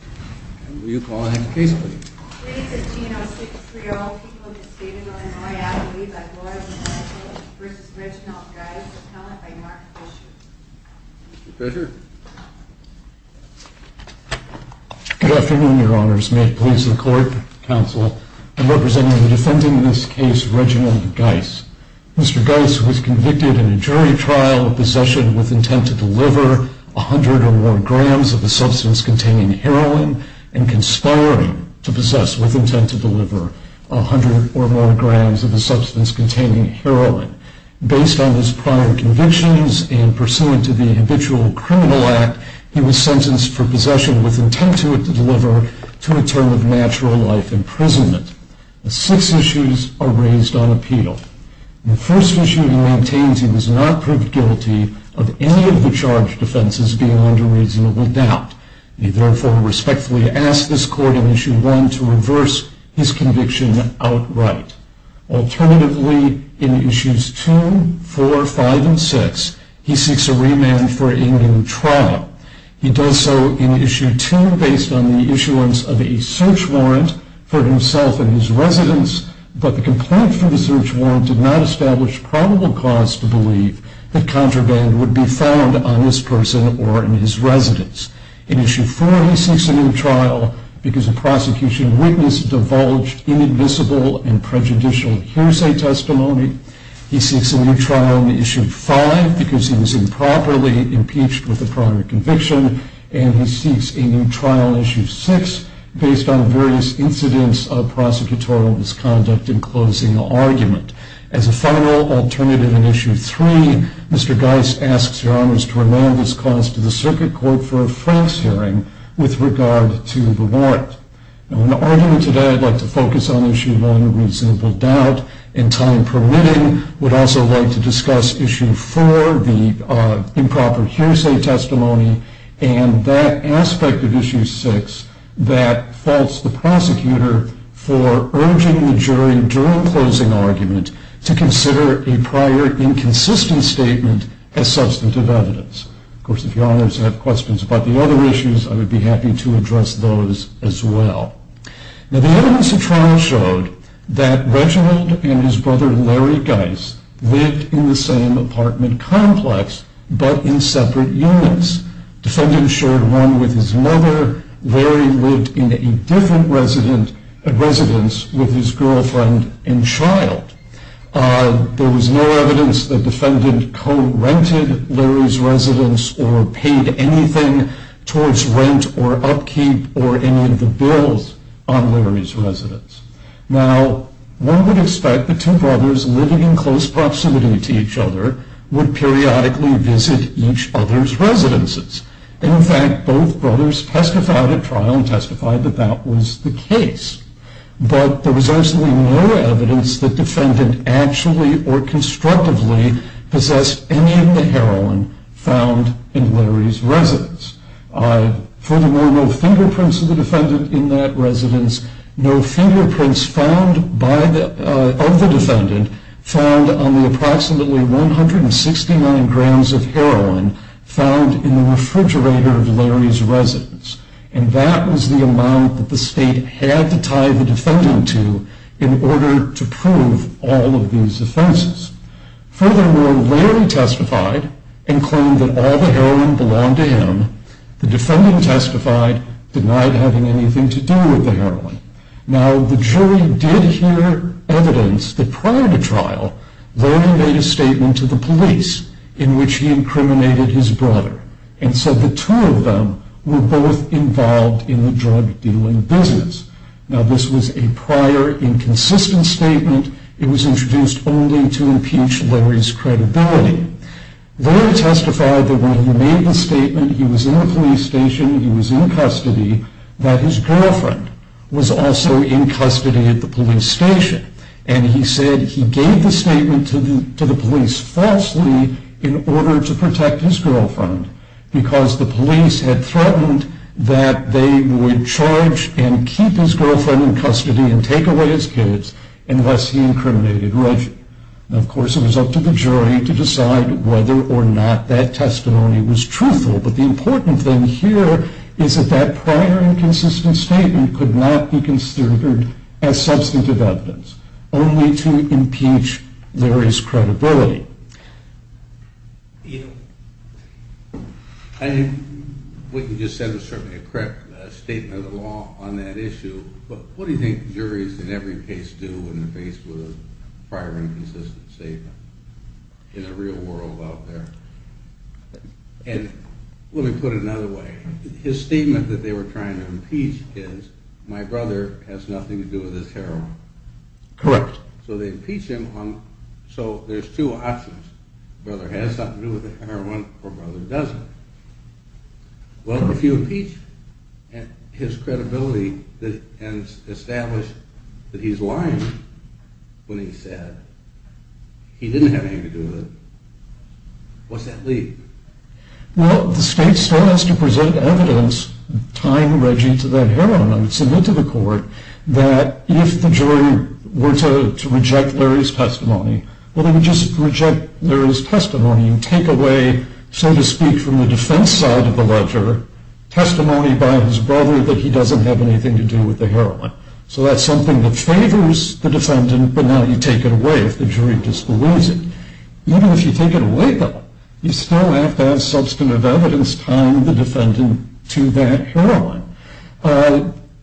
Good afternoon, Your Honors. May it please the Court, Counsel, and representing the defendant in this case, Reginald Guice. Mr. Guice was convicted in a jury trial of possession with intent to deliver a hundred or more grams of a substance containing heroin. Based on his prior convictions and pursuant to the Habitual Criminal Act, he was sentenced for possession with intent to deliver to a term of natural life imprisonment. The six issues are raised on appeal. The first issue he maintains he was not proved guilty of any of the charged offenses beyond a reasonable doubt. He therefore respectfully asks this Court in Issue 1 to reverse his conviction outright. Alternatively, in Issues 2, 4, 5, and 6, he seeks a remand for a new trial. He does so in Issue 2 based on the issuance of a search warrant for himself and his residence, but the complaint for the search warrant did not establish probable cause to believe that contraband would be found on this person or in his residence. In Issue 4, he seeks a new trial because a prosecution witness divulged inadmissible and prejudicial hearsay testimony. He seeks a new trial in Issue 5 because he was improperly impeached with a prior conviction, and he seeks a new trial in Issue 6 based on various incidents of prosecutorial misconduct in closing the argument. As a final alternative in Issue 3, Mr. Geist asks Your Honors to remand this cause to the Circuit Court for a France hearing with regard to the warrant. In the argument today, I'd like to focus on Issue 1, reasonable doubt, and time permitting, I would also like to discuss Issue 4, the improper hearsay testimony, and that aspect of Issue 6 that faults the prosecutor for urging the jury during closing argument to consider a prior inconsistent statement as substantive evidence. Of course, if Your Honors have questions about the other issues, I would be happy to address those as well. Now, the evidence of trial showed that Reginald and his brother Larry Geist lived in the same apartment complex, but in separate units. Defendants shared one with his mother. Larry lived in a different residence with his girlfriend and child. There was no evidence that defendant co-rented Larry's residence or paid anything towards rent or upkeep or any of the bills on Larry's residence. Now, one would expect the two brothers living in close proximity to each other would periodically visit each other's residences. In fact, both brothers testified at trial and testified that that was the case, but there was absolutely no evidence that defendant actually or constructively possessed any of the heroin found in Larry's residence. Furthermore, no fingerprints of the defendant in that residence, no fingerprints found by the, of the defendant, found on the approximately 169 grams of heroin found in the refrigerator of Larry's residence, and that was the amount that the state had to tie the defendant to in order to prove all of these offenses. Furthermore, Larry testified and claimed that all the heroin belonged to him. The defendant testified, denied having anything to do with the heroin. Now, the jury did hear evidence that prior to trial, Larry made a statement to the police in which he incriminated his brother and said the two of them were both involved in the drug dealing business. Now, this was a prior inconsistent statement. It was introduced only to impeach Larry's credibility. Larry testified that when he made the statement, he was in the police station, he was in custody, that his girlfriend was also in custody at the police station, and he said he gave the statement to the police falsely in order to protect his girlfriend, because the police had threatened that they would charge and keep his girlfriend in custody and take away his kids, and thus he incriminated Reggie. Now, of course, it was up to the jury to decide whether or not that testimony was truthful, but the important thing here is that that prior inconsistent statement could not be considered as substantive evidence, only to impeach Larry's credibility. I think what you just said was certainly a correct statement of the law on that issue, but what do you think juries in every case do when they're faced with a prior inconsistent statement in the real world out there? And let me put it another way. His statement that they were trying to impeach is, my brother has nothing to do with this heroin. Correct. So they impeach him, so there's two options. Brother has something to do with the heroin, or brother doesn't. Well, if you impeach his credibility and establish that he's lying when he said he didn't have anything to do with it, what's that leave? Well, the state still has to present evidence tying Reggie to that heroin and submit to the court that if the jury were to reject Larry's testimony, well, they would just reject Larry's testimony and take away, so to speak, from the defense side of the ledger, testimony by his brother that he doesn't have anything to do with the heroin. So that's something that favors the defendant, but now you take it away if the jury disbelieves it. Even if you take it away, though, you still have to have substantive evidence tying the defendant to that heroin.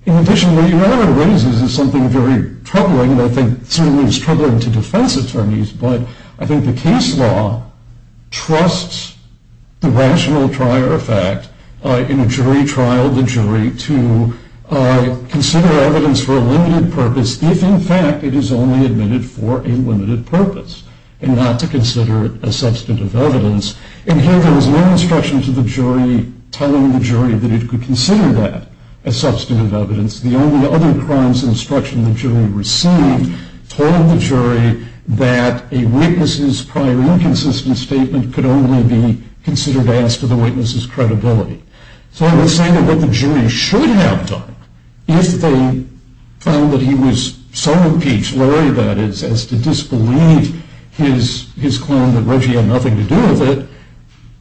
In addition, what your argument raises is something very troubling, and I think certainly is troubling to defense attorneys, but I think the case law trusts the rational prior effect in a jury trial, the jury, to consider evidence for a limited purpose if, in fact, it is only admitted for a limited purpose and not to consider it as substantive evidence. And here there was no instruction to the jury telling the jury that it could consider that as substantive evidence. The only other crimes instruction the jury received told the jury that a witness's prior inconsistent statement could only be considered as to the witness's credibility. So I would say that what the jury should have done, if they found that he was so impeached, Larry, that is, as to disbelieve his claim that Reggie had nothing to do with it,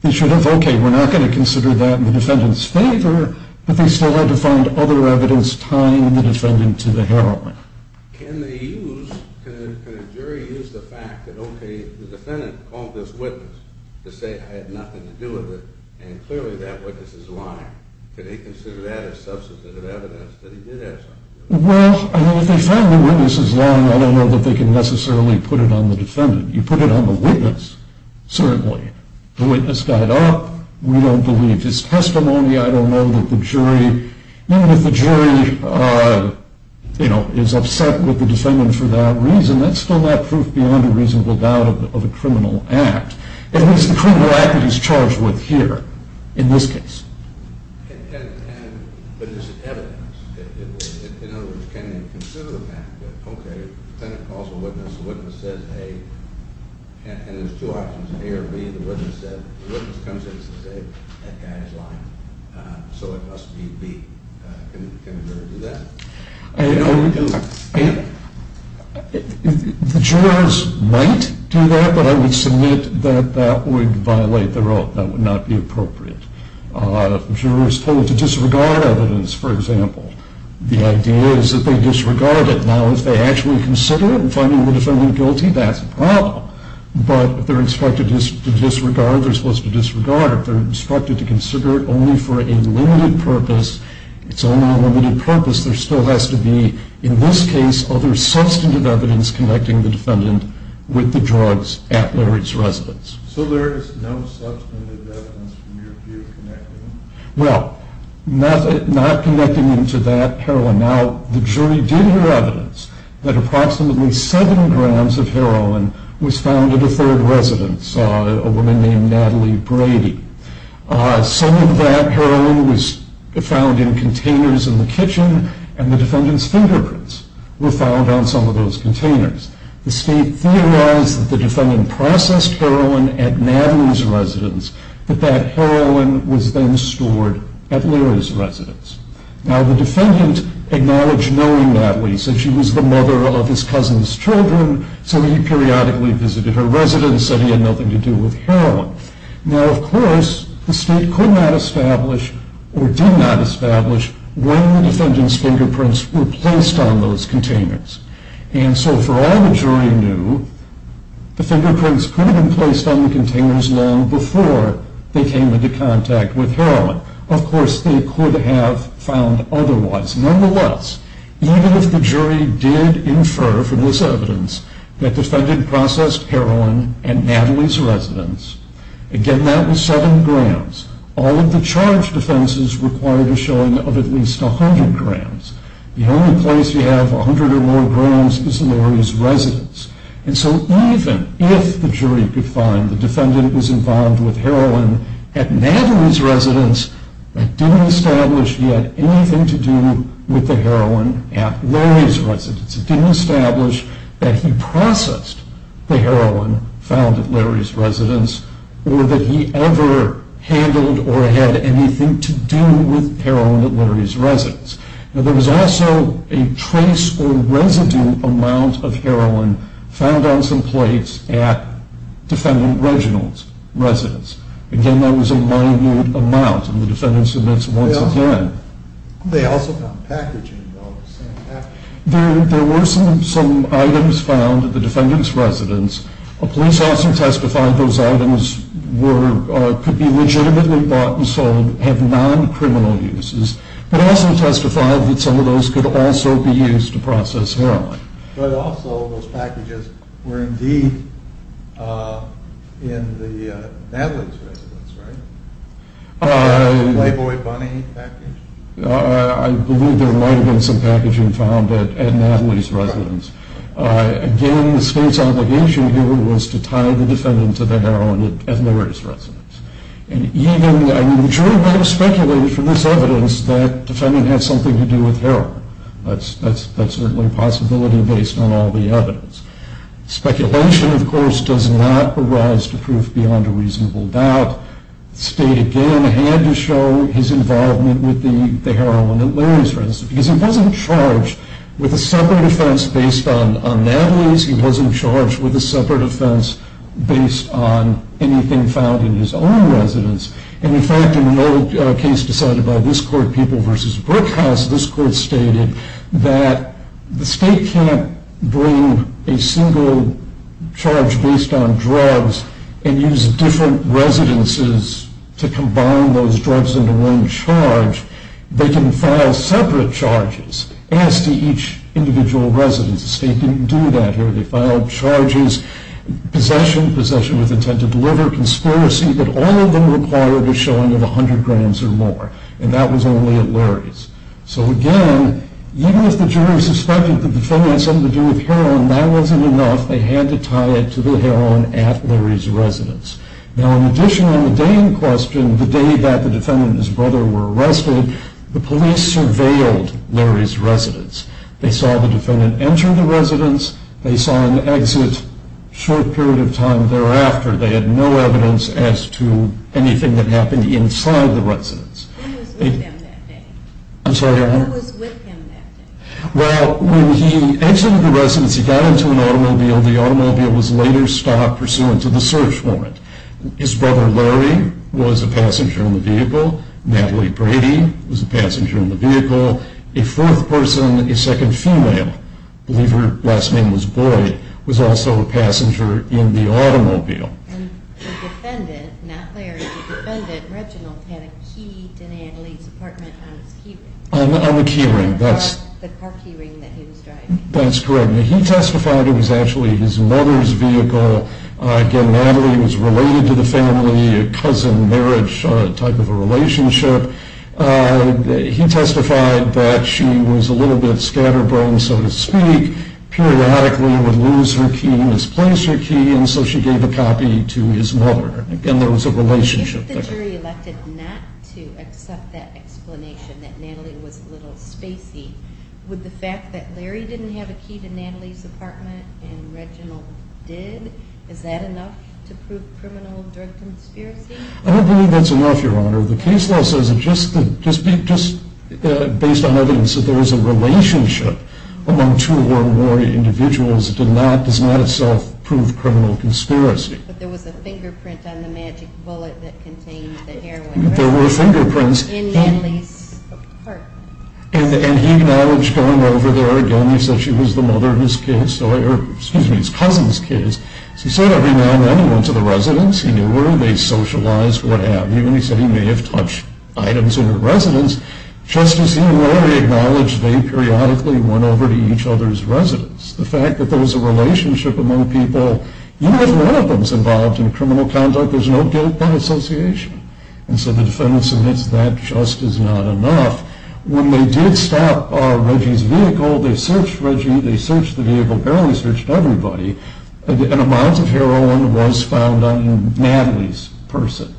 they should have, okay, we're not going to consider that in the defendant's favor, but they still had to find other evidence tying the defendant to the heroin. Can they use, can a jury use the fact that, okay, the defendant called this witness to say I had nothing to do with it, and clearly that witness is lying. Can they consider that as substantive evidence that he did have something to do with it? Well, I mean, if they find the witness is lying, I don't know that they can necessarily put it on the defendant. You put it on the witness, certainly. The witness got up. We don't believe his testimony. I don't know that the jury, even if the jury, you know, is upset with the defendant for that reason, that's still not proof beyond a reasonable doubt of a criminal act, at least the criminal act that he's charged with here in this case. But is it evidence? In other words, can you consider the fact that, okay, the defendant calls the witness, the witness says A, and there's two options, A or B, the witness comes in and says A, that guy is lying, so it must be B. Can a jury do that? The jurors might do that, but I would submit that that would violate the rule. That would not be appropriate. Jurors told to disregard evidence, for example, the idea is that they disregard it. Now, if they actually consider it in finding the defendant guilty, that's a problem. But if they're instructed to disregard, they're supposed to disregard. If they're instructed to consider it only for a limited purpose, it's only a limited purpose, there still has to be, in this case, other substantive evidence connecting the defendant with the drugs at Larry's residence. So there is no substantive evidence from your view connecting them? Well, not connecting them to that heroin. Now, the jury did hear evidence that approximately 7 grams of heroin was found at a third residence, a woman named Natalie Brady. Some of that heroin was found in containers in the kitchen, and the defendant's fingerprints were found on some of those containers. The state theorized that the defendant processed heroin at Natalie's residence, but that heroin was then stored at Larry's residence. Now, the defendant acknowledged knowing Natalie, said she was the mother of his cousin's children, so he periodically visited her residence, said he had nothing to do with heroin. Now, of course, the state could not establish or did not establish when the defendant's fingerprints were placed on those containers. And so for all the jury knew, the fingerprints could have been placed on the containers long before they came into contact with heroin. Of course, they could have found otherwise. Nonetheless, even if the jury did infer from this evidence that the defendant processed heroin at Natalie's residence, again, that was 7 grams. All of the charge defenses required a showing of at least 100 grams. The only place you have 100 or more grams is Larry's residence. And so even if the jury could find the defendant was involved with heroin at Natalie's residence, that didn't establish he had anything to do with the heroin at Larry's residence. It didn't establish that he processed the heroin found at Larry's residence or that he ever handled or had anything to do with heroin at Larry's residence. Now, there was also a trace or residue amount of heroin found on some plates at defendant Reginald's residence. Again, that was a minute amount, and the defendant submits once again. They also found packaging. There were some items found at the defendant's residence. A police officer testified those items could be legitimately bought and sold, have non-criminal uses, but also testified that some of those could also be used to process heroin. But also those packages were indeed in Natalie's residence, right? Playboy bunny package? I believe there might have been some packaging found at Natalie's residence. Again, the state's obligation here was to tie the defendant to the heroin at Larry's residence. And even the jury might have speculated from this evidence that the defendant had something to do with heroin. That's certainly a possibility based on all the evidence. Speculation, of course, does not arise to prove beyond a reasonable doubt. The state, again, had to show his involvement with the heroin at Larry's residence because he wasn't charged with a separate offense based on Natalie's. He wasn't charged with a separate offense based on anything found in his own residence. And, in fact, in another case decided by this court, People v. Brookhouse, this court stated that the state can't bring a single charge based on drugs and use different residences to combine those drugs into one charge. They can file separate charges as to each individual residence. The state didn't do that here. They filed charges, possession, possession with intent to deliver, conspiracy, but all of them required a showing of 100 grams or more. And that was only at Larry's. So, again, even if the jury suspected that the defendant had something to do with heroin, that wasn't enough. They had to tie it to the heroin at Larry's residence. Now, in addition, on the day in question, the day that the defendant and his brother were arrested, the police surveilled Larry's residence. They saw the defendant enter the residence. They saw him exit a short period of time thereafter. They had no evidence as to anything that happened inside the residence. Who was with him that day? I'm sorry, Erin? Who was with him that day? Well, when he entered the residence, he got into an automobile. The automobile was later stopped pursuant to the search warrant. His brother Larry was a passenger in the vehicle. Natalie Brady was a passenger in the vehicle. A fourth person, a second female, I believe her last name was Boyd, was also a passenger in the automobile. And the defendant, not Larry, the defendant, Reginald, had a key to Natalie's apartment on his key ring. The car key ring that he was driving. That's correct. Now, he testified it was actually his mother's vehicle. Again, Natalie was related to the family, a cousin marriage type of a relationship. He testified that she was a little bit scatterbrained, so to speak, periodically would lose her key, misplace her key, and so she gave a copy to his mother. Again, there was a relationship there. If the jury elected not to accept that explanation, that Natalie was a little spacey, would the fact that Larry didn't have a key to Natalie's apartment and Reginald did, is that enough to prove criminal drug conspiracy? I don't believe that's enough, Your Honor. The case law says that just based on evidence that there was a relationship among two or more individuals does not itself prove criminal conspiracy. But there was a fingerprint on the magic bullet that contained the heroin. There were fingerprints. In Natalie's apartment. And he acknowledged going over there, again, he said she was the mother of his kids, or excuse me, his cousin's kids. He said every now and then he went to the residence. He knew her. They socialized, what have you. And he said he may have touched items in her residence. Just as he and Larry acknowledged, they periodically went over to each other's residence. The fact that there was a relationship among people, even if one of them is involved in criminal conduct, there's no guilt by association. And so the defendant submits that just is not enough. When they did stop Reggie's vehicle, they searched Reggie, they searched the vehicle, barely searched everybody, and amounts of heroin was found on Natalie's person.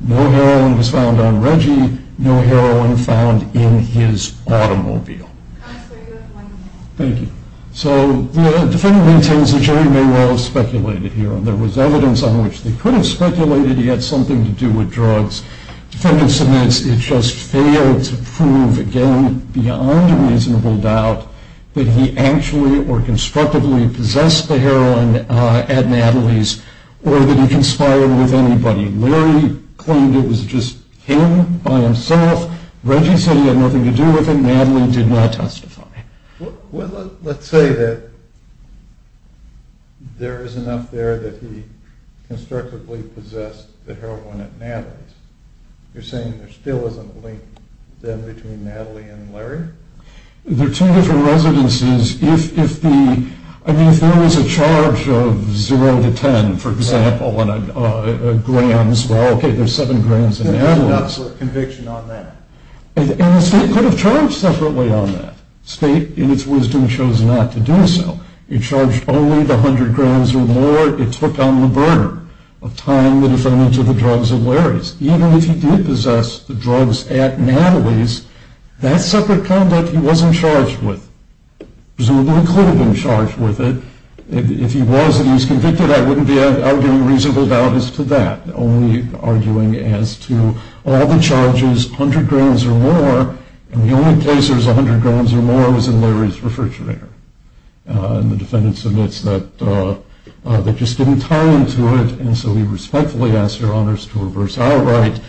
No heroin was found on Reggie. No heroin found in his automobile. Counselor, you have one minute. Thank you. So the defendant maintains the jury may well have speculated here. There was evidence on which they could have speculated he had something to do with drugs. Defendant submits it just failed to prove, again, beyond a reasonable doubt, that he actually or constructively possessed the heroin at Natalie's or that he conspired with anybody. Larry claimed it was just him by himself. Reggie said he had nothing to do with it. Natalie did not testify. Well, let's say that there is enough there that he constructively possessed the heroin at Natalie's. You're saying there still isn't a link then between Natalie and Larry? There are two different residences. I mean, if there was a charge of 0 to 10, for example, and a grams, well, OK, there's 7 grams in Natalie's. There's not sort of conviction on that. And the state could have charged separately on that. State, in its wisdom, chose not to do so. It charged only the 100 grams or more. It took on the burden of tying the defendant to the drugs at Larry's. Even if he did possess the drugs at Natalie's, that separate conduct he wasn't charged with. Presumably he could have been charged with it. If he was and he was convicted, I wouldn't be arguing reasonable doubt as to that, only arguing as to all the charges, 100 grams or more, and the only place there was 100 grams or more was in Larry's refrigerator. And the defendant submits that they just didn't tie him to it, and so we respectfully ask your honors to reverse our right.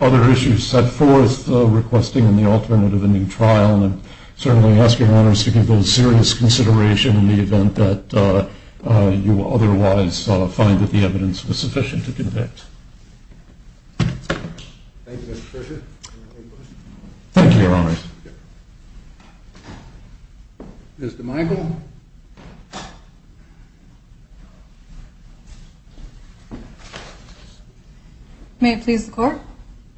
Other issues set forth, requesting the alternate of a new trial, and certainly ask your honors to give those serious consideration in the event that you otherwise find that the evidence was sufficient to convict. Thank you, Mr. Fisher. Thank you, your honors. Ms. DeMichael. May it please the court,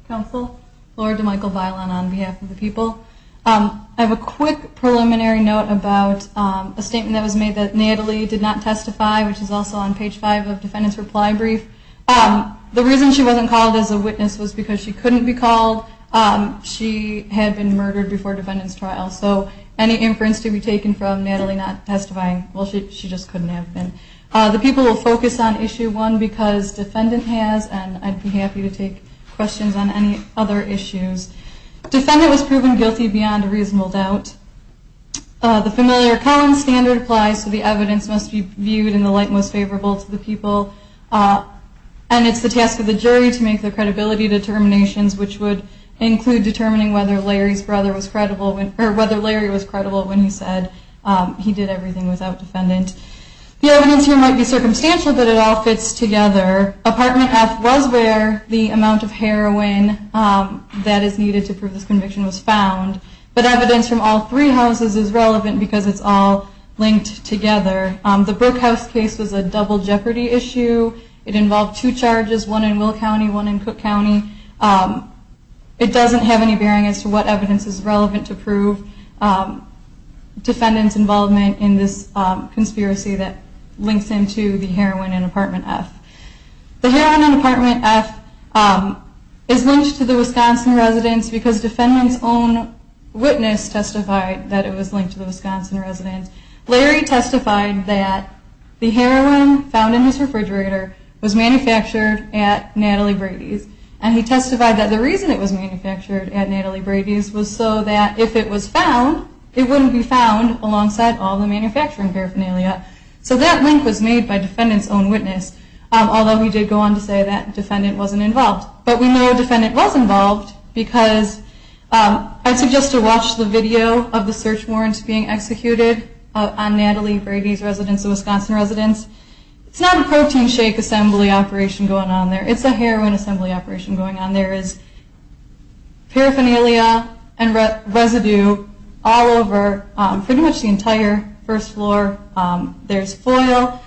counsel, Laura DeMichael Bailon on behalf of the people. I have a quick preliminary note about a statement that was made that Natalie did not testify, which is also on page 5 of defendant's reply brief. The reason she wasn't called as a witness was because she couldn't be called. She had been murdered before defendant's trial, so any inference to be taken from Natalie not testifying, well, she just couldn't have been. The people will focus on issue one because defendant has, and I'd be happy to take questions on any other issues. Defendant was proven guilty beyond a reasonable doubt. The familiar common standard applies, so the evidence must be viewed in the light most favorable to the people, and it's the task of the jury to make the credibility determinations, which would include determining whether Larry's brother was credible, or whether Larry was credible when he said he did everything without defendant. The evidence here might be circumstantial, but it all fits together. Apartment F was where the amount of heroin that is needed to prove this conviction was found, but evidence from all three houses is relevant because it's all linked together. The Brook House case was a double jeopardy issue. It involved two charges, one in Will County, one in Cook County. It doesn't have any bearing as to what evidence is relevant to prove defendant's involvement in this conspiracy that links into the heroin in Apartment F. The heroin in Apartment F is linked to the Wisconsin residence because defendant's own witness testified that it was linked to the Wisconsin residence. Larry testified that the heroin found in his refrigerator was manufactured at Natalie Brady's and he testified that the reason it was manufactured at Natalie Brady's was so that if it was found, it wouldn't be found alongside all the manufacturing paraphernalia. So that link was made by defendant's own witness, although we did go on to say that defendant wasn't involved. But we know defendant was involved because I suggest to watch the video of the search warrants being executed on Natalie Brady's residence, the Wisconsin residence. It's not a protein shake assembly operation going on there. It's a heroin assembly operation going on there. There is paraphernalia and residue all over pretty much the entire first floor. There's foil.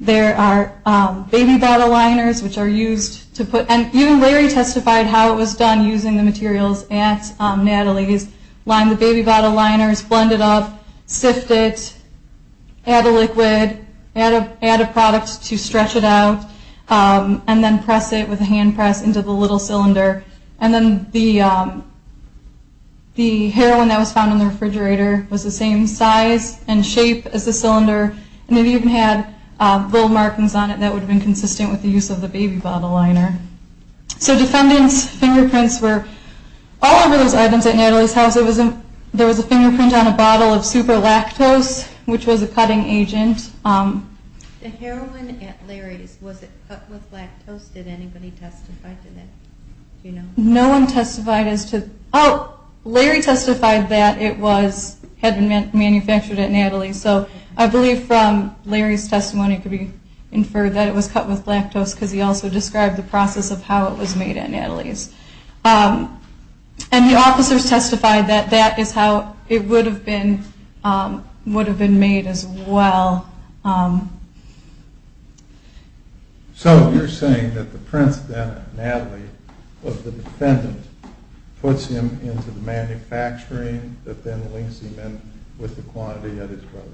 There are baby bottle liners, which are used to put, and even Larry testified how it was done using the materials at Natalie's. Line the baby bottle liners, blend it up, sift it, add a liquid, add a product to stretch it out, and then press it with a hand press into the little cylinder. And then the heroin that was found in the refrigerator was the same size and shape as the cylinder, and it even had little markings on it that would have been consistent with the use of the baby bottle liner. So defendant's fingerprints were all over those items at Natalie's house. There was a fingerprint on a bottle of Super Lactose, which was a cutting agent. The heroin at Larry's, was it cut with lactose? Did anybody testify to that? No one testified as to that. Oh, Larry testified that it had been manufactured at Natalie's. So I believe from Larry's testimony it could be inferred that it was cut with lactose because he also described the process of how it was made at Natalie's. And the officers testified that that is how it would have been made as well. So you're saying that the prints then at Natalie's of the defendant puts him into the manufacturing that then links him in with the quantity at his brother's?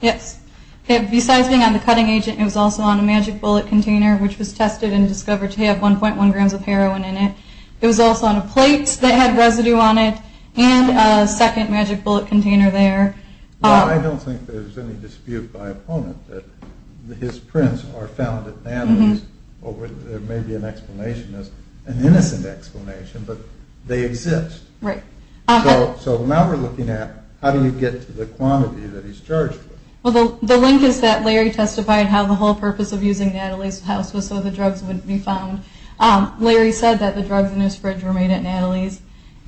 Yes. Besides being on the cutting agent, it was also on a magic bullet container, which was tested and discovered to have 1.1 grams of heroin in it. It was also on a plate that had residue on it, and a second magic bullet container there. I don't think there's any dispute by opponent that his prints are found at Natalie's. There may be an explanation, an innocent explanation, but they exist. Right. So now we're looking at how do you get to the quantity that he's charged with? Well, the link is that Larry testified how the whole purpose of using Natalie's house was so the drugs wouldn't be found. Larry said that the drugs in his fridge were made at Natalie's.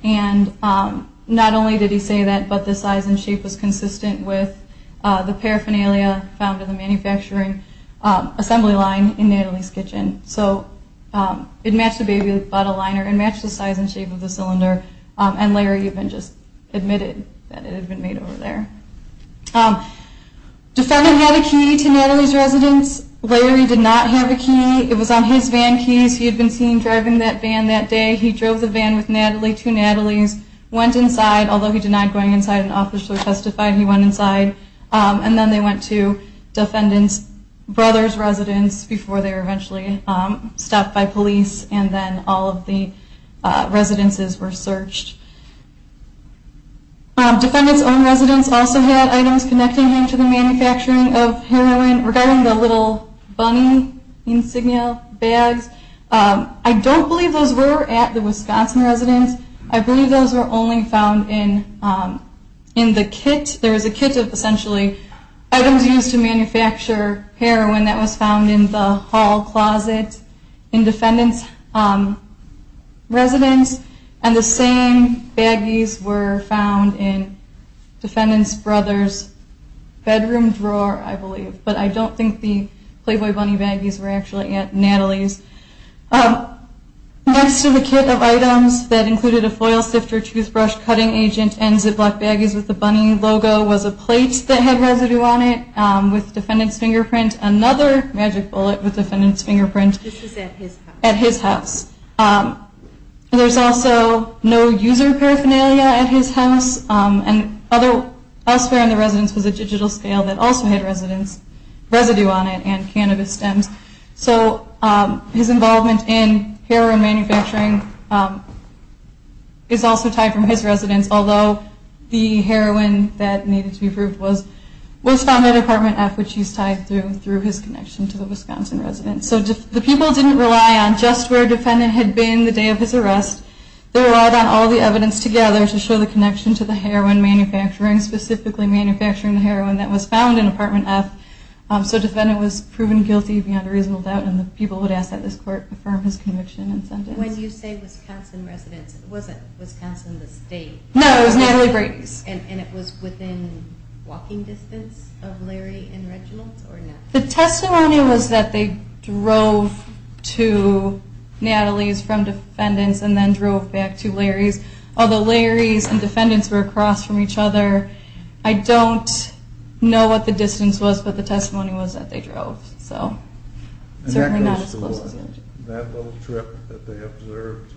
And not only did he say that, but the size and shape was consistent with the paraphernalia found in the manufacturing assembly line in Natalie's kitchen. So it matched the baby bottle liner. It matched the size and shape of the cylinder. And Larry even just admitted that it had been made over there. Defendant had a key to Natalie's residence. Larry did not have a key. It was on his van keys. He had been seen driving that van that day. He drove the van with Natalie to Natalie's, went inside, although he denied going inside and officially testified he went inside. And then they went to defendant's brother's residence before they were eventually stopped by police, and then all of the residences were searched. Defendant's own residence also had items connecting him to the manufacturing of heroin regarding the little bunny insignia bags. I don't believe those were at the Wisconsin residence. I believe those were only found in the kit. There was a kit of essentially items used to manufacture heroin that was found in the hall closet in defendant's residence. And the same baggies were found in defendant's brother's bedroom drawer, I believe. But I don't think the Playboy bunny baggies were actually at Natalie's. Next to the kit of items that included a foil sifter, toothbrush, cutting agent, and Ziploc baggies with the bunny logo was a plate that had residue on it with defendant's fingerprint. Another magic bullet with defendant's fingerprint. This is at his house. At his house. There's also no user paraphernalia at his house. And elsewhere in the residence was a digital scale that also had residue on it and cannabis stems. So his involvement in heroin manufacturing is also tied from his residence, although the heroin that needed to be approved was found at Apartment F, which he's tied through his connection to the Wisconsin residence. So the people didn't rely on just where defendant had been the day of his arrest. They relied on all the evidence together to show the connection to the heroin manufacturing, specifically manufacturing the heroin that was found in Apartment F. So defendant was proven guilty beyond a reasonable doubt, and the people would ask that this court affirm his conviction and sentence. When you say Wisconsin residence, it wasn't Wisconsin the state? No, it was Natalie Brady's. And it was within walking distance of Larry and Reginald's or not? The testimony was that they drove to Natalie's from defendants and then drove back to Larry's, although Larry's and defendants were across from each other. I don't know what the distance was, but the testimony was that they drove. So it's certainly not as close as you would think. And that little trip that they observed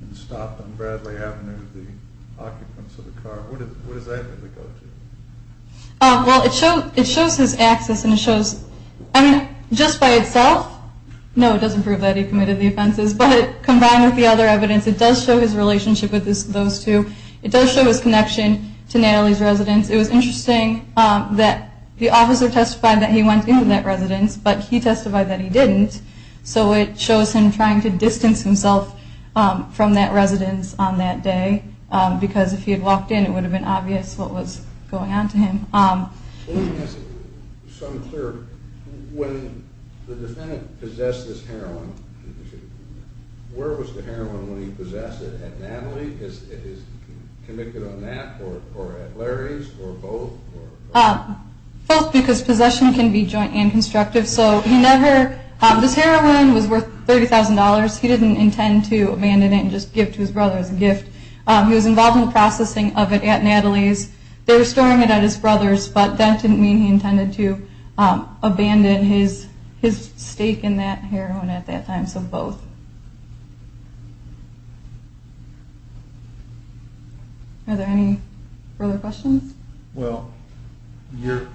and stopped on Bradley Avenue, the occupants of the car, what is that going to go to? Well, it shows his access and it shows just by itself. No, it doesn't prove that he committed the offenses. But combined with the other evidence, it does show his relationship with those two. It does show his connection to Natalie's residence. It was interesting that the officer testified that he went into that residence, but he testified that he didn't. So it shows him trying to distance himself from that residence on that day, because if he had walked in, it would have been obvious what was going on to him. Let me ask you something clear. When the defendant possessed this heroin, where was the heroin when he possessed it? At Natalie? Is he convicted on that? Or at Larry's? Or both? Both, because possession can be joint and constructive. So this heroin was worth $30,000. He didn't intend to abandon it and just give to his brother as a gift. He was involved in the processing of it at Natalie's. They were storing it at his brother's, but that didn't mean he intended to abandon his stake in that heroin at that time. So both. Are there any further questions? Well, we're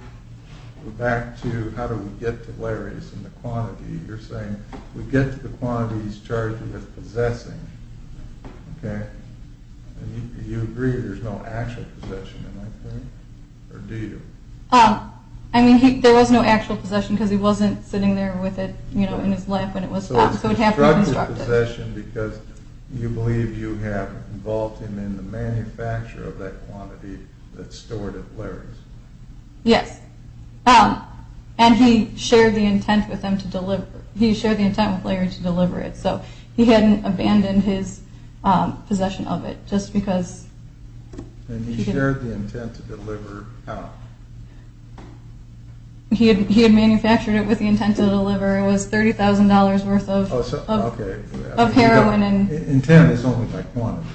back to how do we get to Larry's and the quantity. You're saying we get to the quantity he's charged with possessing, okay? And you agree there's no actual possession, am I correct? Or do you? I mean, there was no actual possession because he wasn't sitting there with it in his lap when it was found. So it would have to be constructive. So it's constructive possession because you believe you have involved him in the manufacture of that quantity that's stored at Larry's. Yes. And he shared the intent with Larry to deliver it. So he hadn't abandoned his possession of it just because. And he shared the intent to deliver how? He had manufactured it with the intent to deliver. It was $30,000 worth of heroin. Intent is only by quantity.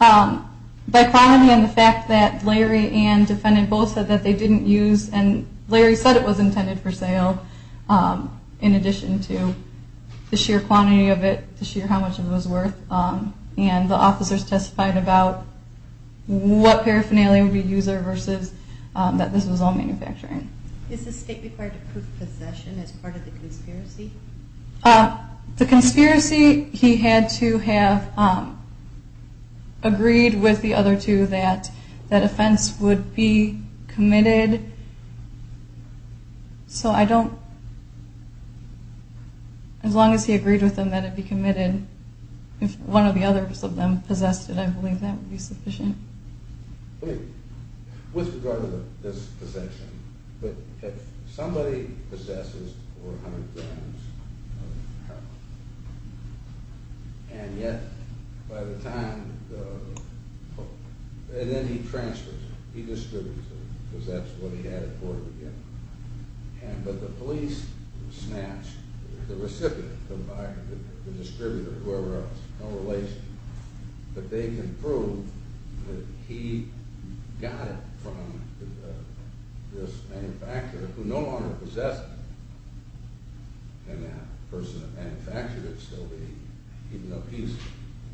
By quantity and the fact that Larry and defendant both said that they didn't use and Larry said it was intended for sale in addition to the sheer quantity of it, the sheer how much it was worth. And the officers testified about what paraphernalia would be used versus that this was all manufacturing. Is the state required to prove possession as part of the conspiracy? The conspiracy, he had to have agreed with the other two that that offense would be committed. So I don't, as long as he agreed with them that it be committed, if one of the others of them possessed it, I believe that would be sufficient. With regard to this possession, but if somebody possesses 400 grams of heroin and yet by the time, and then he transfers it. He distributes it because that's what he had it for to begin with. But the police snatch the recipient, the buyer, the distributor, whoever else, but they can prove that he got it from this manufacturer who no longer possessed it. Can that person that manufactured it still be, even though he's,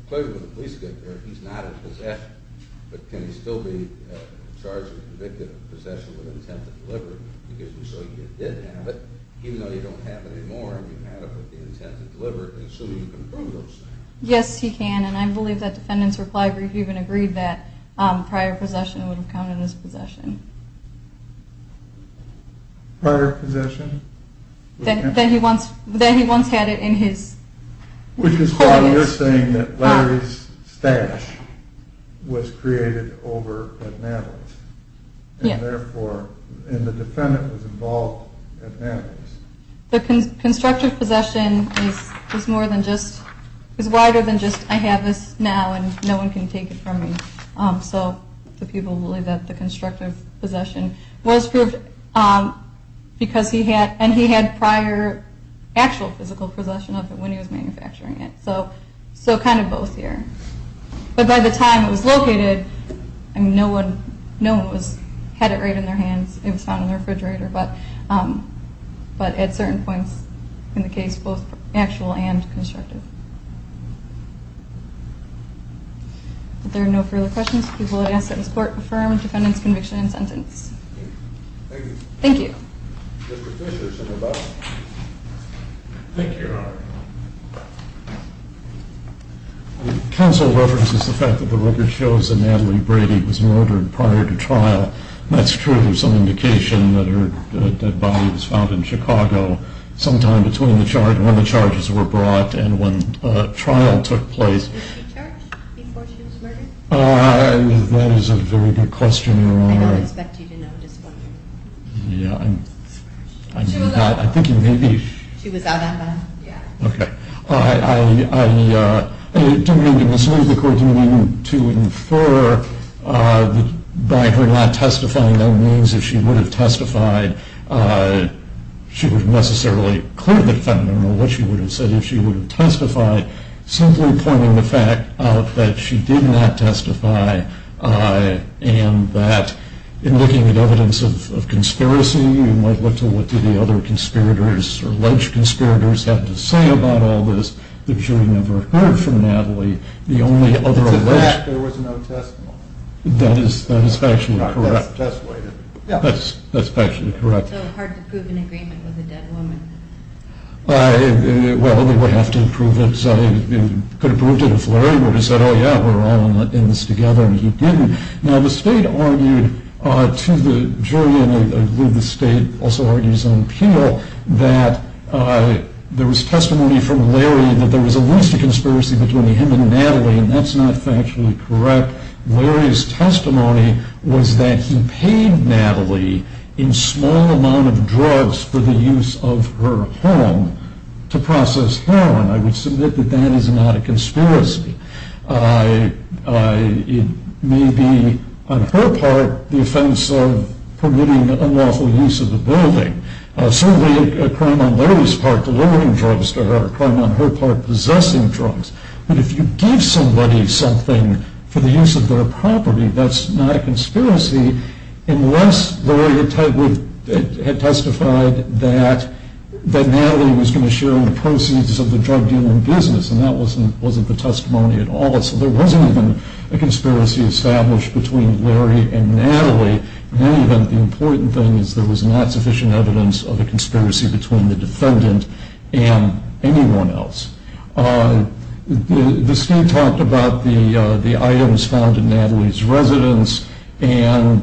clearly when the police get there, he's not in possession, but can he still be charged and convicted of possession with intent to deliver it because until you did have it, even though you don't have it anymore and you had it with the intent to deliver it, Yes, he can. And I believe that defendant's reply brief even agreed that prior possession would have counted as possession. Prior possession? That he once had it in his... Which is why we're saying that Larry's stash was created over at Maddow's. And therefore, and the defendant was involved at Maddow's. The constructive possession is more than just, is wider than just, I have this now and no one can take it from me. So the people believe that the constructive possession was proved because he had, and he had prior actual physical possession of it when he was manufacturing it. So kind of both here. But by the time it was located, no one had it right in their hands. It was found in the refrigerator, but at certain points in the case, both actual and constructive. If there are no further questions, we will ask that this court affirm the defendant's conviction and sentence. Thank you. Thank you. Mr. Fisher is in the back. Thank you. Counsel references the fact that the record shows that Natalie Brady was murdered prior to trial. That's true. There's some indication that her dead body was found in Chicago sometime between the charge, when the charges were brought and when trial took place. Was she charged before she was murdered? That is a very good question, Your Honor. I don't expect you to know just yet. Yeah, I'm not, I think you may be. She was out on bond. Okay. I don't mean to mislead the court. I mean to infer that by her not testifying, that means if she would have testified, she would have necessarily cleared the defendant on what she would have said if she would have testified, simply pointing the fact out that she did not testify and that in looking at evidence of conspiracy, you might look to what did the other conspirators or alleged conspirators have to say about all this. The jury never heard from Natalie. The only other alleged... To that there was no testimony. That is factually correct. That's factually correct. It's so hard to prove an agreement with a dead woman. Well, they would have to prove it. You could have proved it if Larry would have said, oh yeah, we're all in this together, and he didn't. Now the state argued to the jury, and I believe the state also argues on appeal, that there was testimony from Larry that there was at least a conspiracy between him and Natalie, and that's not factually correct. Larry's testimony was that he paid Natalie in small amount of drugs for the use of her home to process heroin. I would submit that that is not a conspiracy. It may be, on her part, the offense of permitting unlawful use of the building. Certainly a crime on Larry's part, delivering drugs to her, a crime on her part, possessing drugs. But if you give somebody something for the use of their property, that's not a conspiracy unless Larry had testified that Natalie was going to share in the proceeds of the drug dealing business, and that wasn't the testimony at all. So there wasn't even a conspiracy established between Larry and Natalie. In any event, the important thing is there was not sufficient evidence of a conspiracy between the defendant and anyone else. The state talked about the items found in Natalie's residence, and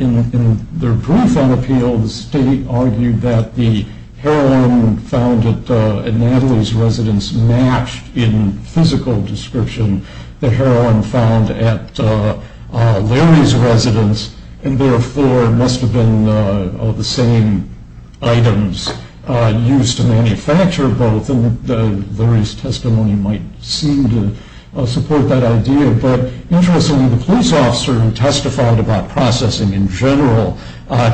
in their brief on appeal, the state argued that the heroin found at Natalie's residence matched in physical description the heroin found at Larry's residence, and therefore must have been the same items used to manufacture both, and Larry's testimony might seem to support that idea. But interestingly, the police officer who testified about processing in general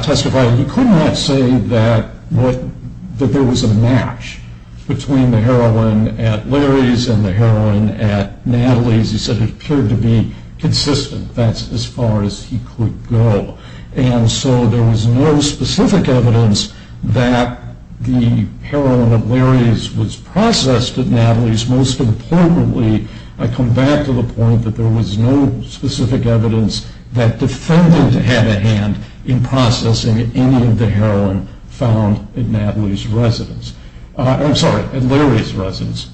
testified that he could not say that there was a match between the heroin at Larry's and the heroin at Natalie's. He said it appeared to be consistent. That's as far as he could go. And so there was no specific evidence that the heroin at Larry's was processed at Natalie's. Most importantly, I come back to the point that there was no specific evidence that the defendant had a hand in processing any of the heroin found at Larry's residence,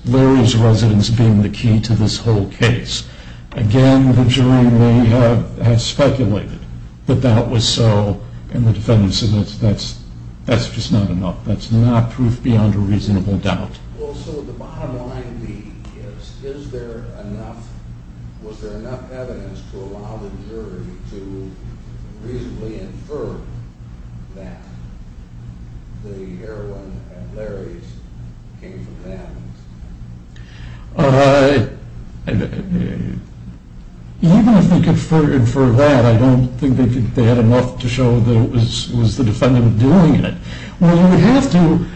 Larry's residence being the key to this whole case. Again, the jury may have speculated that that was so, and the defendant said that's just not enough, that's not proof beyond a reasonable doubt. Well, so the bottom line is, was there enough evidence to allow the jury to reasonably infer that the heroin at Larry's came from Natalie's? Even if they could infer that, I don't think they had enough to show that it was the defendant doing it. Well, you would have to,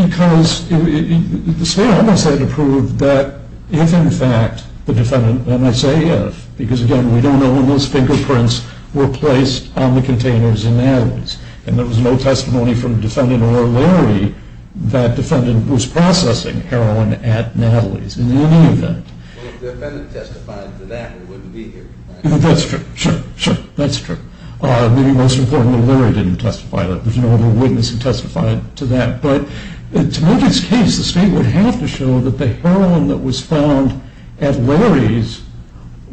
because the state almost had to prove that if in fact the defendant, and I say if, because again, we don't know when those fingerprints were placed on the containers in Natalie's, and there was no testimony from the defendant or Larry that the defendant was processing heroin at Natalie's in any event. Well, if the defendant testified to that, it wouldn't be here. That's true, sure, sure, that's true. Maybe most importantly, Larry didn't testify to that. There's no other witness who testified to that. But to make this case, the state would have to show that the heroin that was found at Larry's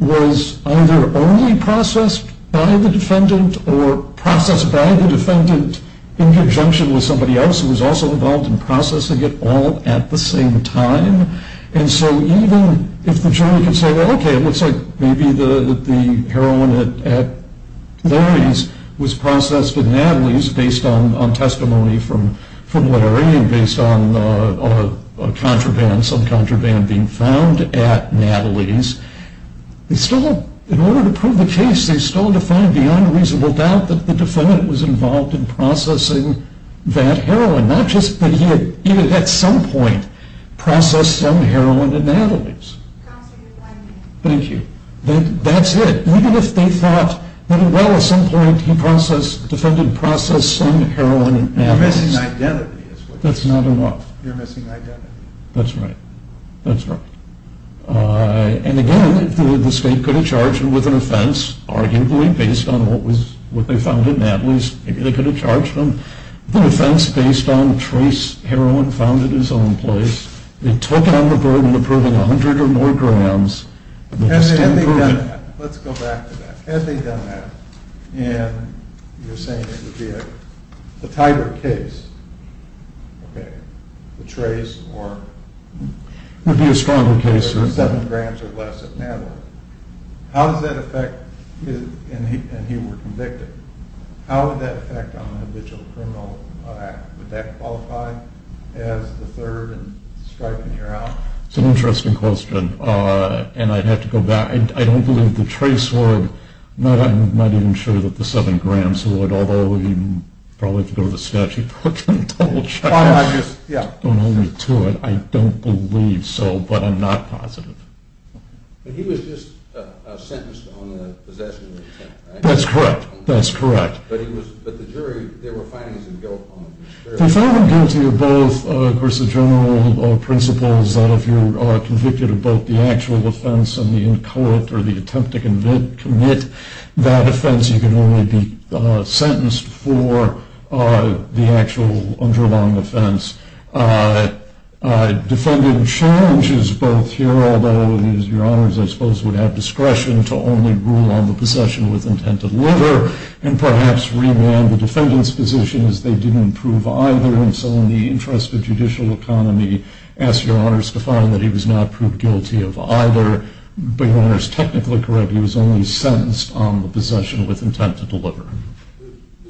was either only processed by the defendant or processed by the defendant in conjunction with somebody else who was also involved in processing it all at the same time. And so even if the jury can say, well, okay, it looks like maybe the heroin at Larry's was processed at Natalie's based on testimony from Larry and based on a contraband, some contraband being found at Natalie's, they still, in order to prove the case, they still have to find beyond reasonable doubt that the defendant was involved in processing that heroin. Not just that he had, even at some point, processed some heroin at Natalie's. Thank you. That's it. Even if they thought that, well, at some point, he processed, the defendant processed some heroin at Natalie's. You're missing identity. That's not enough. You're missing identity. That's right. That's right. And again, the state could have charged him with an offense, arguably based on what they found at Natalie's. Maybe they could have charged him with an offense based on trace heroin found at his own place. They took on the burden of proving 100 or more grams. Had they done that, let's go back to that. Had they done that, and you're saying it would be a tighter case, okay, the trace or... It would be a stronger case, sir. Seven grams or less at Natalie's. How does that affect, and he were convicted. How would that affect on an individual criminal act? Would that qualify as the third and striping her out? It's an interesting question, and I'd have to go back. I don't believe the trace would. I'm not even sure that the seven grams would, although we'd probably have to go to the statute book and double check. Yeah. Don't hold me to it. I don't believe so, but I'm not positive. But he was just sentenced on the possession of intent, right? That's correct. That's correct. But the jury, there were findings of guilt on it. If I were to give to you both, of course, the general principle is that if you're convicted of both the actual offense and the in-court or the attempt to commit that offense, you can only be sentenced for the actual underlying offense. Defendant's challenge is both here, although your honors, I suppose, would have discretion to only rule on the possession with intent to deliver and perhaps remand the defendant's position as they didn't prove either. And so in the interest of judicial economy, ask your honors to find that he was not proved guilty of either. But your honor is technically correct. He was only sentenced on the possession with intent to deliver.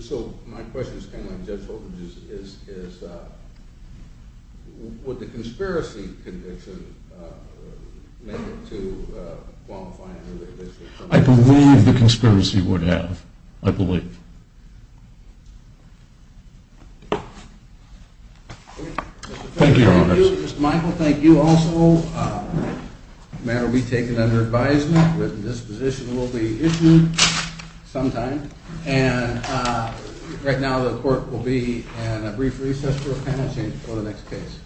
So my question is kind of like Judge Hogan's, is would the conspiracy conviction make it to qualifying? I believe the conspiracy would have. I believe. Thank you, your honors. Thank you, Mr. Michael. Thank you also. The matter will be taken under advisement. Written disposition will be issued sometime. And right now the court will be in a brief recess for a panel change before the next case.